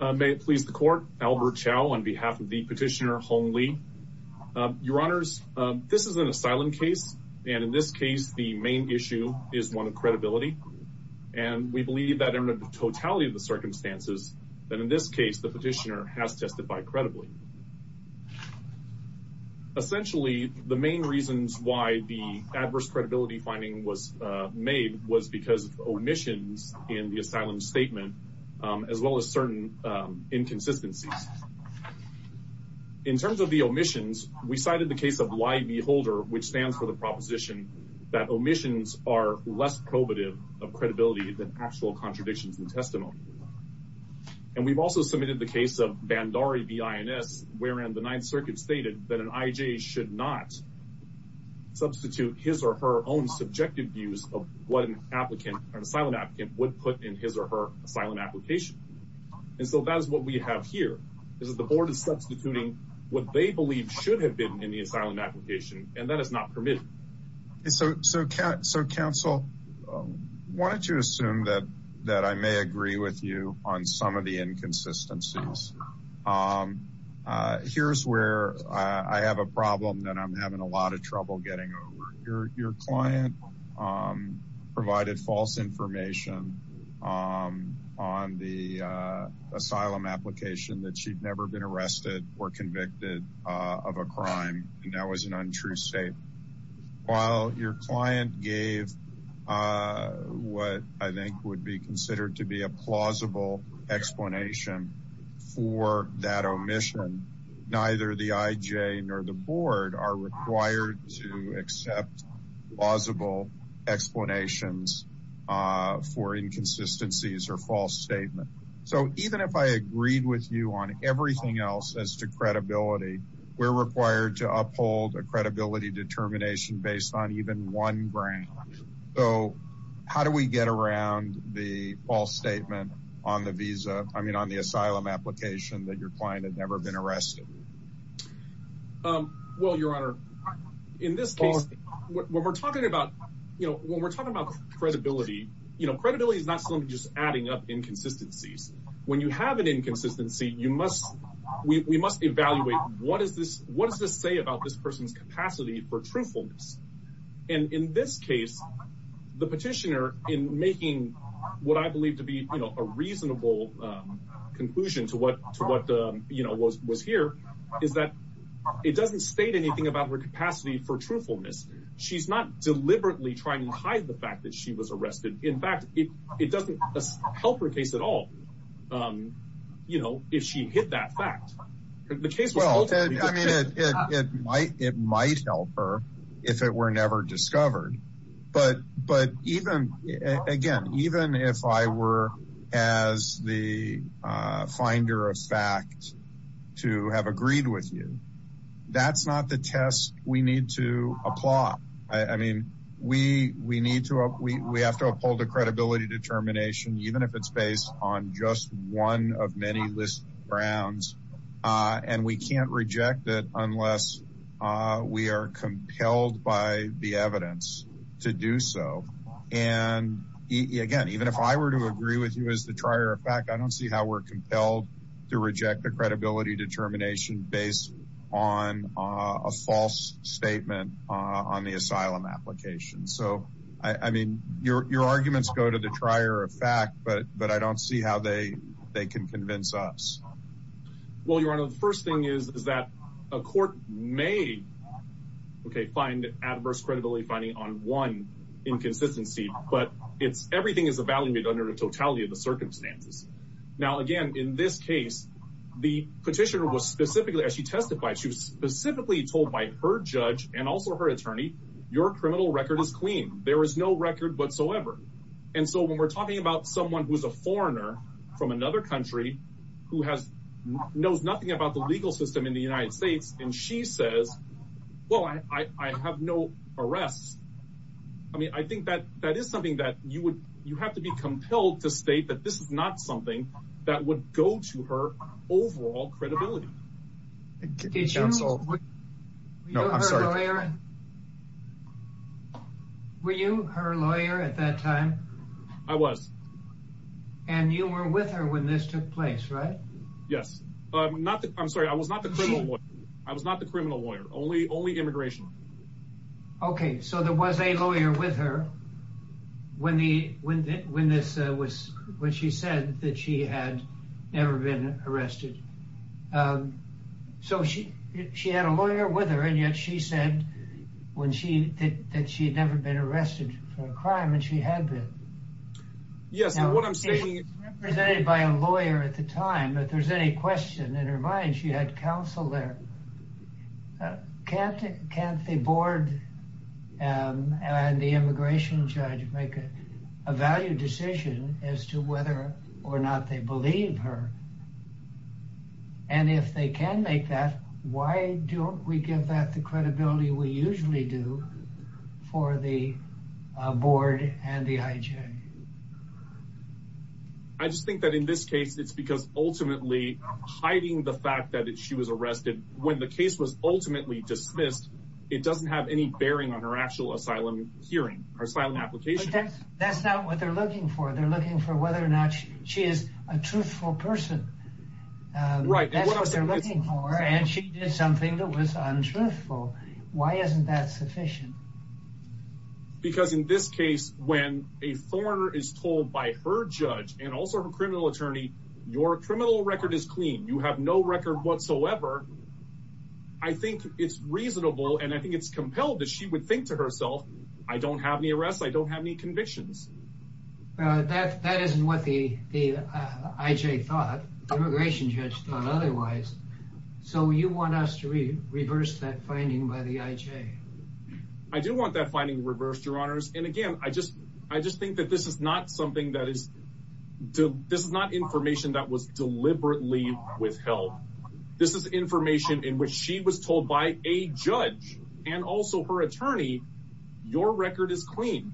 May it please the court, Albert Chow on behalf of the petitioner Hong Li. Your honors, this is an asylum case and in this case the main issue is one of credibility and we believe that in the totality of the circumstances that in this case the petitioner has testified credibly. Essentially the main reasons why the adverse credibility finding was made was because of inconsistencies. In terms of the omissions we cited the case of lie beholder which stands for the proposition that omissions are less probative of credibility than actual contradictions intestinal. And we've also submitted the case of Bandari B.I.N.S. wherein the ninth circuit stated that an I.J. should not substitute his or her own subjective views of what an applicant or her asylum application. And so that is what we have here, is that the board is substituting what they believe should have been in the asylum application and that is not permitted. So counsel, why don't you assume that I may agree with you on some of the inconsistencies. Here's where I have a problem that I'm having a lot of trouble getting over. Your client provided false information on the asylum application that she'd never been arrested or convicted of a crime and that was an untrue state. While your client gave what I think would be considered to be a plausible explanation for that omission, neither the I.J. nor the board are required to accept plausible explanations for inconsistencies or false statement. So even if I agreed with you on everything else as to credibility, we're required to uphold a credibility determination based on even one ground. So how do we get around the false statement on the visa, that your client had never been arrested? Well your honor, in this case when we're talking about you know when we're talking about credibility, you know credibility is not simply just adding up inconsistencies. When you have an inconsistency, we must evaluate what is this what does this say about this person's capacity for truthfulness. And in this case, the petitioner in making what I believe to be you know a reasonable conclusion to what you know was here is that it doesn't state anything about her capacity for truthfulness. She's not deliberately trying to hide the fact that she was arrested. In fact, it doesn't help her case at all. You know if she hit that fact, the case was ultimately... Well I mean it might help her if it were never discovered. But even again, even if I were as the finder of fact to have agreed with you, that's not the test we need to apply. I mean we need to, we have to uphold a credibility determination even if it's based on just one of many list grounds. And we can't reject it unless we are compelled by the evidence to do so. And again, even if I were to agree with you as the trier of fact, I don't see how we're compelled to reject the credibility determination based on a false statement on the asylum application. So I mean your arguments go to the trier of fact, but I don't see how they can convince us. Well your honor, the first thing is that a court may find adverse credibility finding on one inconsistency, but everything is evaluated under the totality of the circumstances. Now again, in this case, the petitioner was specifically, as she testified, she was specifically told by her judge and also her attorney, your criminal record is clean. There is no record whatsoever. And so when we're talking about someone who's a foreigner from another country who knows nothing about the legal system in the United States and she says, well, I have no arrests. I mean, I think that that is something that you would, you have to be compelled to state that this is not something that would go to her overall credibility. Did you? No, I'm sorry. Were you her lawyer at that time? I was. And you were with her when this took place, right? Yes. I'm sorry. I was not the criminal lawyer. I was not the criminal lawyer. Only immigration. Okay. So there was a lawyer with her when she said that she had never been arrested. So she, she had a lawyer with her and yet she said when she did that, she had never been arrested for a crime and she had been. Yes. And what I'm saying is represented by a lawyer at the time, if there's any question in her mind, she had counsel there. Can't, can't the board and the immigration judge make a value decision as to whether or not they believe her. And if they can make that, why don't we give that the credibility we usually do for the board and the IJ? I just think that in this case, it's because ultimately hiding the fact that she was arrested when the case was ultimately dismissed, it doesn't have any bearing on her actual asylum hearing or asylum application. That's not what they're looking for. They're looking for whether or not she is a truthful person. And she did something that was untruthful. Why isn't that sufficient? Because in this case, when a foreigner is told by her judge and also her criminal attorney, your criminal record is clean. You have no record whatsoever. I think it's reasonable. And I think it's compelled that she would think to herself, I don't have any arrests. I don't have any the IJ thought, the immigration judge thought otherwise. So you want us to reverse that finding by the IJ? I do want that finding reversed, your honors. And again, I just, I just think that this is not something that is, this is not information that was deliberately withheld. This is information in which she was told by a judge and also her attorney, your record is clean.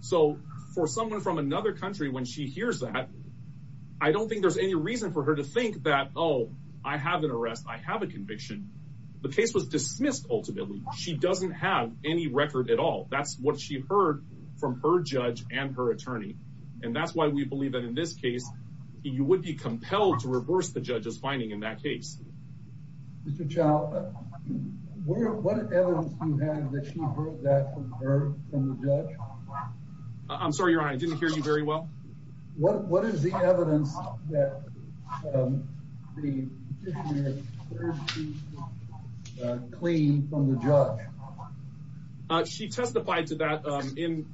So for someone from another country, when she hears that, I don't think there's any reason for her to think that, oh, I have an arrest. I have a conviction. The case was dismissed. Ultimately, she doesn't have any record at all. That's what she heard from her judge and her attorney. And that's why we believe that in this case, you would be compelled to reverse the judge's finding in that case. Mr. Chow, what evidence do you have that she heard that from her, from the judge? I'm sorry, your honor, I didn't hear you very well. What is the evidence that the petitioner cleaned from the judge? She testified to that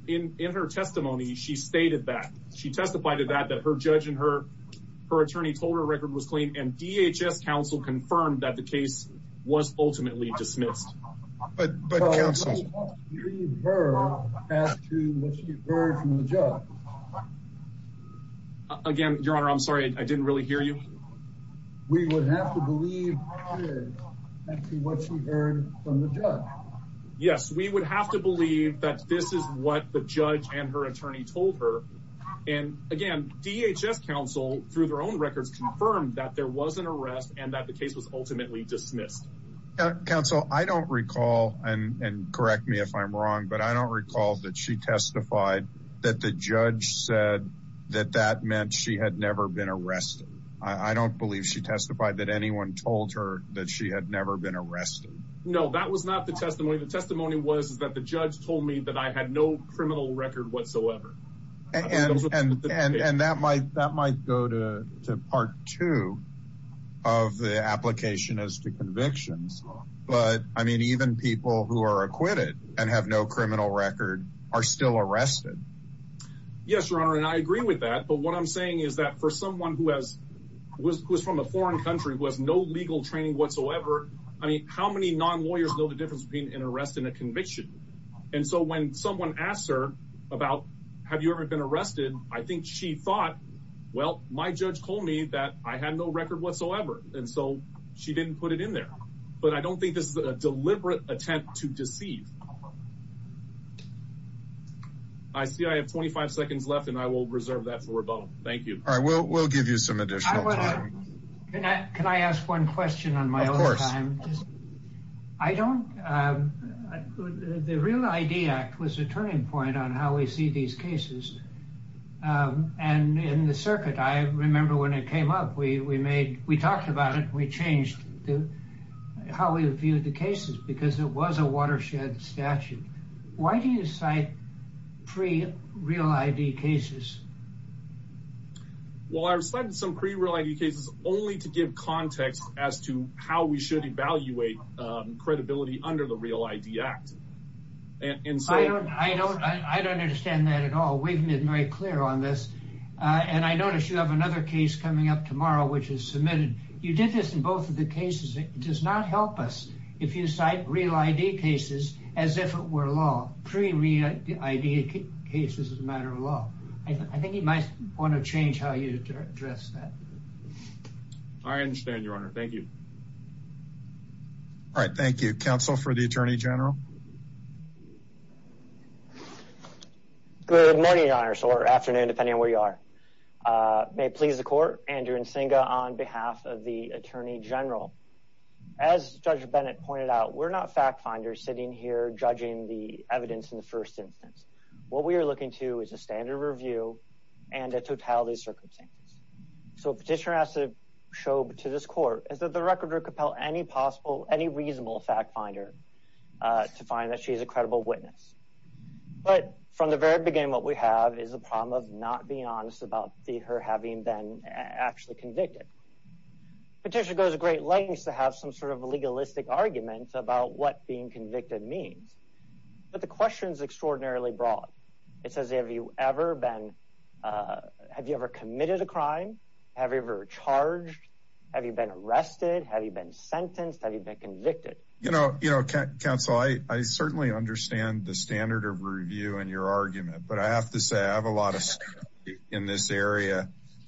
in her testimony. She stated that. She testified to that, that her judge and her attorney told her her record was clean and DHS counsel confirmed that the case was ultimately dismissed. But, but, again, your honor, I'm sorry, I didn't really hear you. We would have to believe actually what she heard from the judge. Yes, we would have to believe that this is what the judge and her attorney told her. And again, DHS counsel through their own records confirmed that there was an arrest and that the case was ultimately dismissed. Counsel, I don't recall and correct me if I'm wrong, but I don't recall that she testified that the judge said that that meant she had never been arrested. I don't believe she testified that anyone told her that she had never been arrested. No, that was not the testimony. The testimony was that the judge told me that I had no part two of the application as to convictions. But I mean, even people who are acquitted and have no criminal record are still arrested. Yes, your honor. And I agree with that. But what I'm saying is that for someone who has was from a foreign country was no legal training whatsoever. I mean, how many non lawyers know the difference between an arrest and a conviction? And so when someone asked her about, have you ever been arrested? I think she thought, well, my judge told me that I had no record whatsoever. And so she didn't put it in there. But I don't think this is a deliberate attempt to deceive. I see I have 25 seconds left and I will reserve that for a bone. Thank you. All right, well, we'll give you some additional time. Can I ask one question on my own time? I don't. The Real ID Act was a turning point on how we see these cases. And in the circuit, I remember when it came up, we made we talked about it, we changed how we viewed the cases because it was a watershed statute. Why do you cite pre Real ID cases? Well, I've cited some pre Real ID cases only to give context as to how we should evaluate credibility under the Real ID Act. And so I don't I don't understand that at all. We've been very clear on this. And I noticed you have another case coming up tomorrow, which is submitted. You did this in both of the cases. It does not help us if you cite Real ID cases as if it were pre Real ID cases as a matter of law. I think you might want to change how you address that. I understand, Your Honor. Thank you. All right. Thank you. Counsel for the Attorney General. Good morning, Your Honor, or afternoon, depending on where you are. May it please the court. Andrew Nsinga on behalf of the Attorney General. As Judge Bennett pointed out, we're not fact finders sitting here judging the evidence in the first instance. What we are looking to is a standard review and a totality of circumstances. So petitioner has to show to this court is that the record or compel any possible any reasonable fact finder to find that she is a credible witness. But from the very beginning, what we have is a problem of not being honest about her having been actually convicted. Petitioner goes a great lengths to have some sort of legalistic arguments about what being convicted means. But the question is extraordinarily broad. It says, have you ever been have you ever committed a crime? Have you ever charged? Have you been arrested? Have you been sentenced? Have you been convicted? You know, you know, counsel, I certainly understand the standard of review in your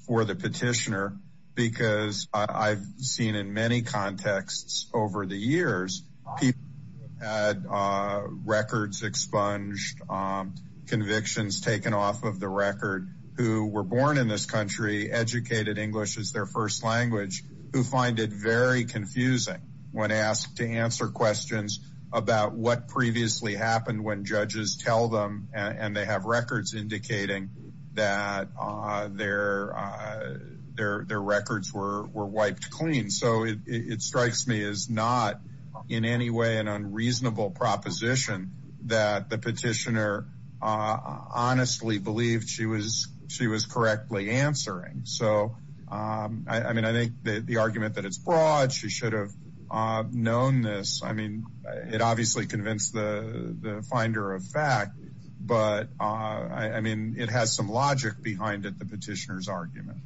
for the petitioner, because I've seen in many contexts over the years, people had records expunged, convictions taken off of the record, who were born in this country, educated English as their first language, who find it very confusing when asked to answer questions about what previously happened when judges tell them and they have records indicating that their their their records were were wiped clean. So it strikes me as not in any way an unreasonable proposition that the petitioner honestly believed she was she was correctly answering. So I mean, I think the argument that it's broad, she should have known this. I mean, it obviously convinced the finder of fact, but I mean, it has some logic behind it, the petitioner's argument.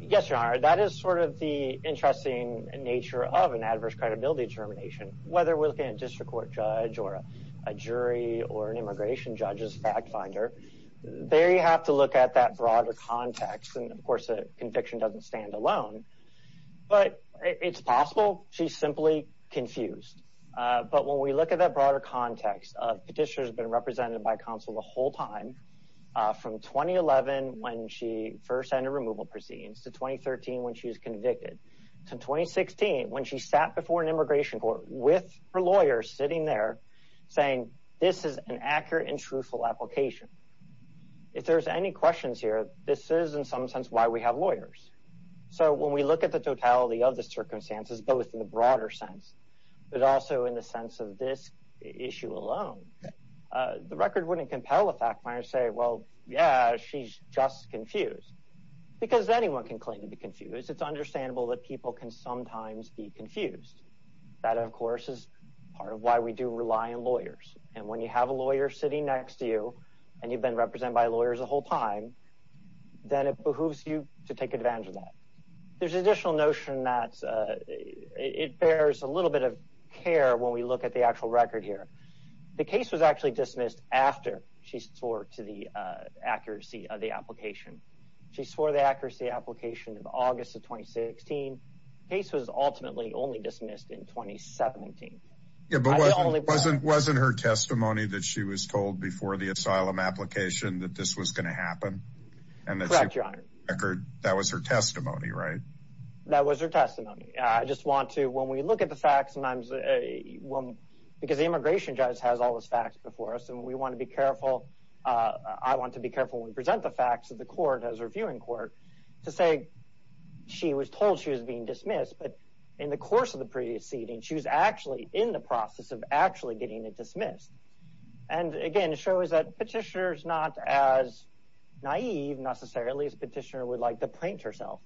Yes, your honor, that is sort of the interesting nature of an adverse credibility determination, whether we're looking at district court judge or a jury or an immigration judges fact finder, there, you have to look at that broader context. And of course, a conviction doesn't stand alone. But it's possible she's simply confused. But when we look at that broader context of petitioners been represented by counsel the whole time, from 2011, when she first entered removal proceedings to 2013, when she was convicted to 2016, when she sat before an immigration court with her lawyers sitting there, saying this is an accurate and truthful application. If there's any questions here, this is in some sense why we have lawyers. So when we look at the totality of the circumstances, both in the broader sense, but also in the sense of this issue alone, the record wouldn't compel a fact finder say, well, yeah, she's just confused. Because anyone can claim to be confused. It's understandable that people can sometimes be confused. That, of course, is part of why we do rely on lawyers. And when you have a lawyer sitting next to you, and you've been represented by lawyers the whole time, then it behooves you to take advantage of that. There's additional notion that it bears a little bit of care when we look at the actual record here. The case was actually dismissed after she swore to the accuracy of the application. She swore the accuracy application of August of 2016. The case was ultimately only dismissed in 2017. Wasn't her testimony that she was told before the asylum application that this was going to happen? Correct, your honor. That was her testimony, right? That was her testimony. I just want to, when we look at the facts sometimes, because the immigration judge has all those facts before us, and we want to be careful. I want to be careful when we present the facts to the court, as a reviewing court, to say she was told she was being dismissed, but in the course of the previous seating, she was actually in the process of actually getting it dismissed. And again, it shows that petitioner's not as naive necessarily as petitioner would like to paint herself.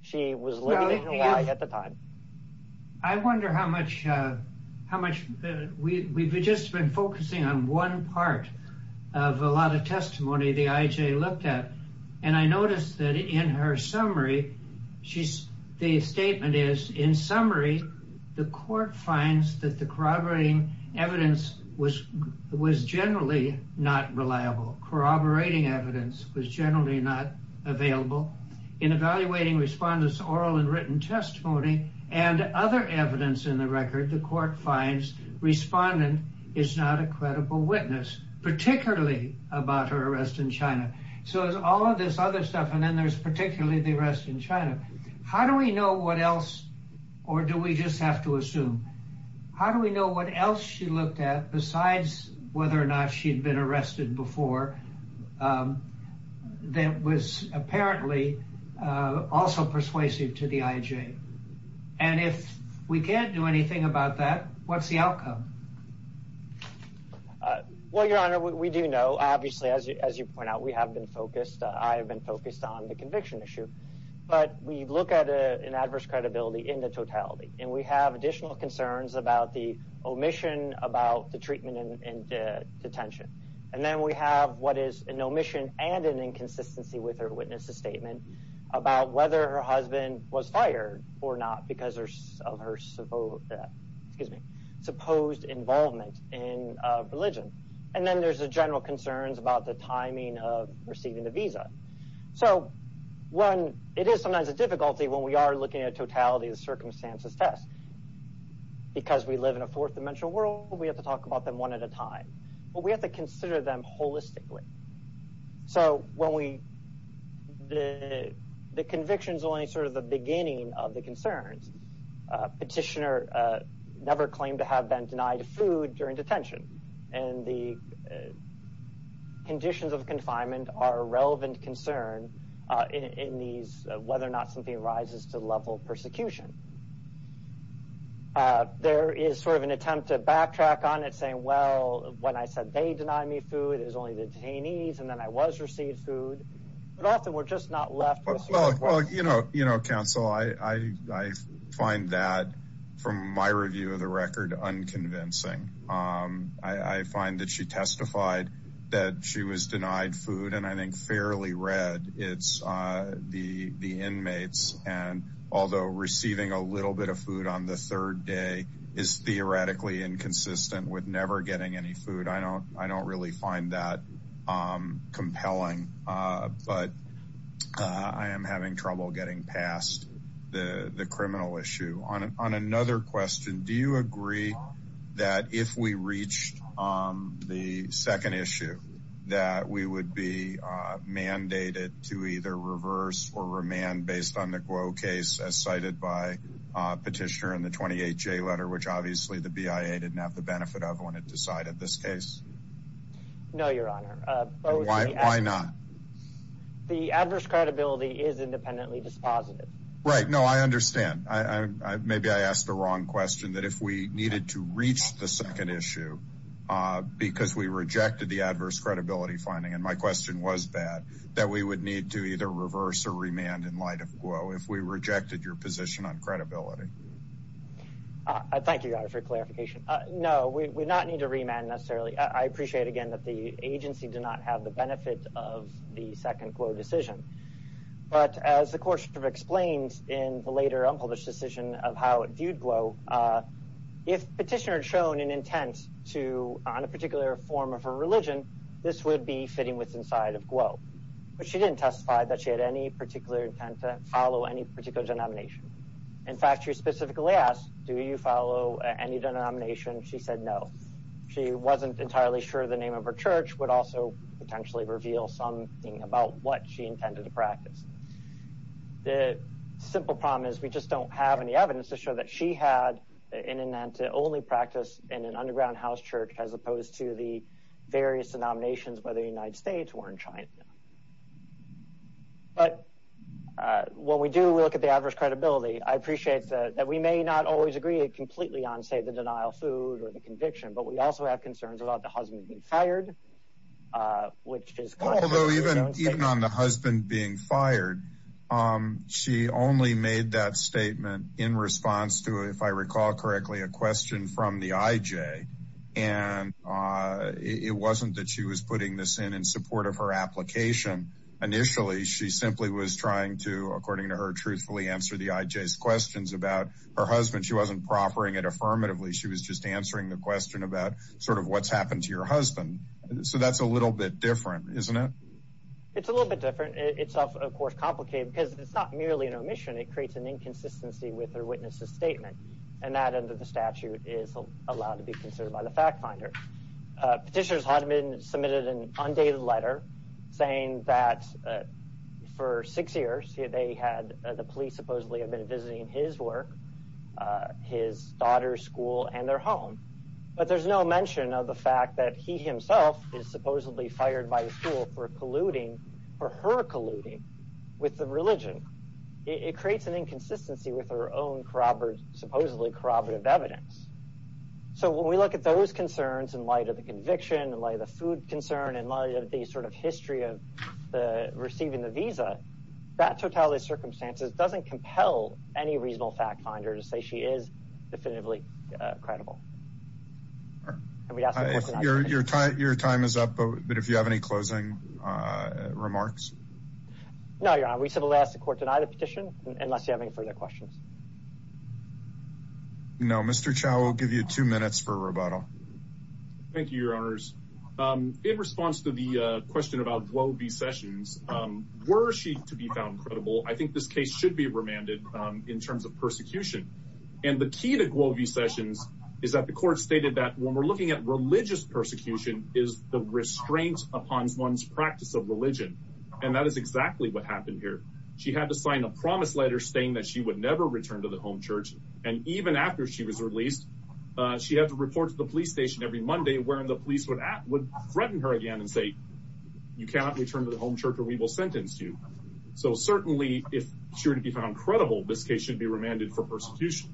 She was looking at the time. I wonder how much, we've just been focusing on one part of a lot of testimony the IJ looked at, and I noticed that in her summary, the statement is, in summary, the court finds that the corroborating evidence was generally not reliable. Corroborating evidence was generally not available. In evaluating respondents' oral and written testimony and other evidence in the record, the court finds respondent is not a credible witness, particularly about her arrest in China. So there's all of this other stuff, and then there's particularly the arrest in China. How do we know what else, or do we just have to assume? How do we know what else she looked at, besides whether or not she'd been arrested before, that was apparently also persuasive to the IJ? And if we can't do anything about that, what's the outcome? Well, Your Honor, we do know, obviously, as you point out, we have been focused, I have been focused on the conviction issue. But we look at an adverse credibility in the totality, and we have additional concerns about the omission, about the treatment in detention. And then we have what is an omission and an inconsistency with her witness's statement about whether her husband was fired or not because of her supposed involvement in religion. And then there's the general concerns about the timing of receiving the visa. So it is sometimes a difficulty when we are looking at totality of the circumstances test. Because we live in a fourth-dimensional world, we have to talk about them one at a time. But we have to consider them of the concerns. Petitioner never claimed to have been denied food during detention, and the conditions of confinement are a relevant concern in these, whether or not something rises to the level of persecution. There is sort of an attempt to backtrack on it, saying, well, when I said they denied me food, it was only the detainees, and then I was received food. But often we're just not left with... Well, you know, counsel, I find that, from my review of the record, unconvincing. I find that she testified that she was denied food, and I think fairly read. It's the inmates. And although receiving a little bit of food on the third day is theoretically inconsistent with never getting any food, I don't really find that compelling. But I am having trouble getting past the criminal issue. On another question, do you agree that if we reached the second issue, that we would be mandated to either reverse or remand based on the Glow case, as cited by Petitioner in the 28J letter, which obviously the BIA didn't have the benefit of when it decided this case? No, Your Honor. Why not? The adverse credibility is independently dispositive. Right, no, I understand. Maybe I asked the wrong question, that if we needed to reach the second issue because we rejected the adverse credibility finding, and my question was that, that we would need to either reverse or remand in light of Glow if we rejected your position on credibility. Thank you, Your Honor, for your clarification. No, we would not need to remand necessarily. I appreciate, again, that the agency did not have the benefit of the second Glow decision. But as the court should have explained in the later unpublished decision of how it viewed Glow, if Petitioner had shown an intent to, on a particular form of her religion, this would be fitting with inside of Glow. But she didn't testify that she had any particular intent to follow any particular denomination. In fact, she specifically asked, do you follow any denomination? She said no. She wasn't entirely sure the name of her church would also potentially reveal something about what she intended to practice. The simple problem is we just don't have any evidence to show that she had an intent to only practice in an underground house church as opposed to the various denominations by the United States or in China. But when we do look at the adverse credibility, I appreciate that we may not always agree completely on, say, the denial of food or the conviction, but we also have concerns about the husband being fired, which is... Although even on the husband being fired, she only made that statement in response to, if I recall correctly, a question from the IJ. And it wasn't that she was putting this in in support of her application. Initially, she simply was trying to, according to her, truthfully answer the IJ's questions about her husband. She wasn't proffering it affirmatively. She was just answering the question about sort of what's happened to your husband. So that's a little bit different, isn't it? It's a little bit different. It's, of course, complicated because it's not merely an inconsistency with her witness's statement. And that, under the statute, is allowed to be considered by the fact finder. Petitioners had submitted an undated letter saying that for six years, they had... The police supposedly had been visiting his work, his daughter's school, and their home. But there's no mention of the fact that he himself is supposedly fired by the school for her colluding with the religion. It creates an inconsistency with her own supposedly corroborative evidence. So when we look at those concerns in light of the conviction, in light of the food concern, in light of the sort of history of receiving the visa, that totality of circumstances doesn't compel any reasonable fact finder to say she is definitively credible. Your time is up, but if you have any closing remarks? No, Your Honor. We simply ask the court to deny the petition, unless you have any further questions. No. Mr. Chau will give you two minutes for rebuttal. Thank you, Your Honors. In response to the question about Glovee Sessions, were she to be found credible? I think this case should be remanded in terms of persecution. And the key to Glovee Sessions is that the court stated that when we're looking at religious persecution is the restraint upon one's practice of religion. And that is exactly what happened here. She had to sign a promise letter saying that she would never return to the home church. And even after she was released, she had to report to the police station every Monday, where the police would threaten her again and say, you cannot return to the home church or we will sentence you. So certainly, if she were to be found credible, this case should be remanded for persecution.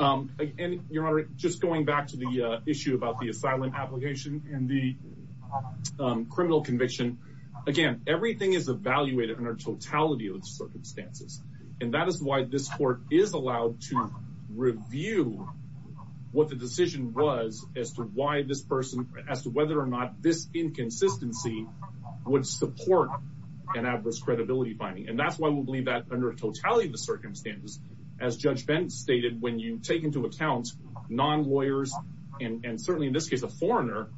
And Your Honor, just going back to the issue about the asylum application and the criminal conviction, again, everything is evaluated under totality of the circumstances. And that is why this court is allowed to review what the decision was as to why this person, as to whether or not this inconsistency would support an adverse credibility finding. And that's why we believe that under totality of the circumstances, as Judge Bent stated, when you take into account non-lawyers, and certainly in this case, a foreigner,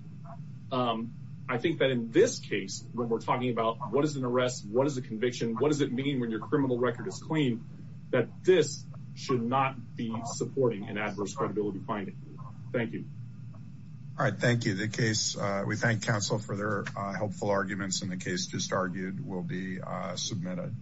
I think that in this case, when we're talking about what is an arrest, what is a conviction, what does it mean when your criminal record is clean, that this should not be supporting an adverse credibility finding. Thank you. All right. Thank you. The case, we thank counsel for their helpful arguments and the case just argued will be submitted.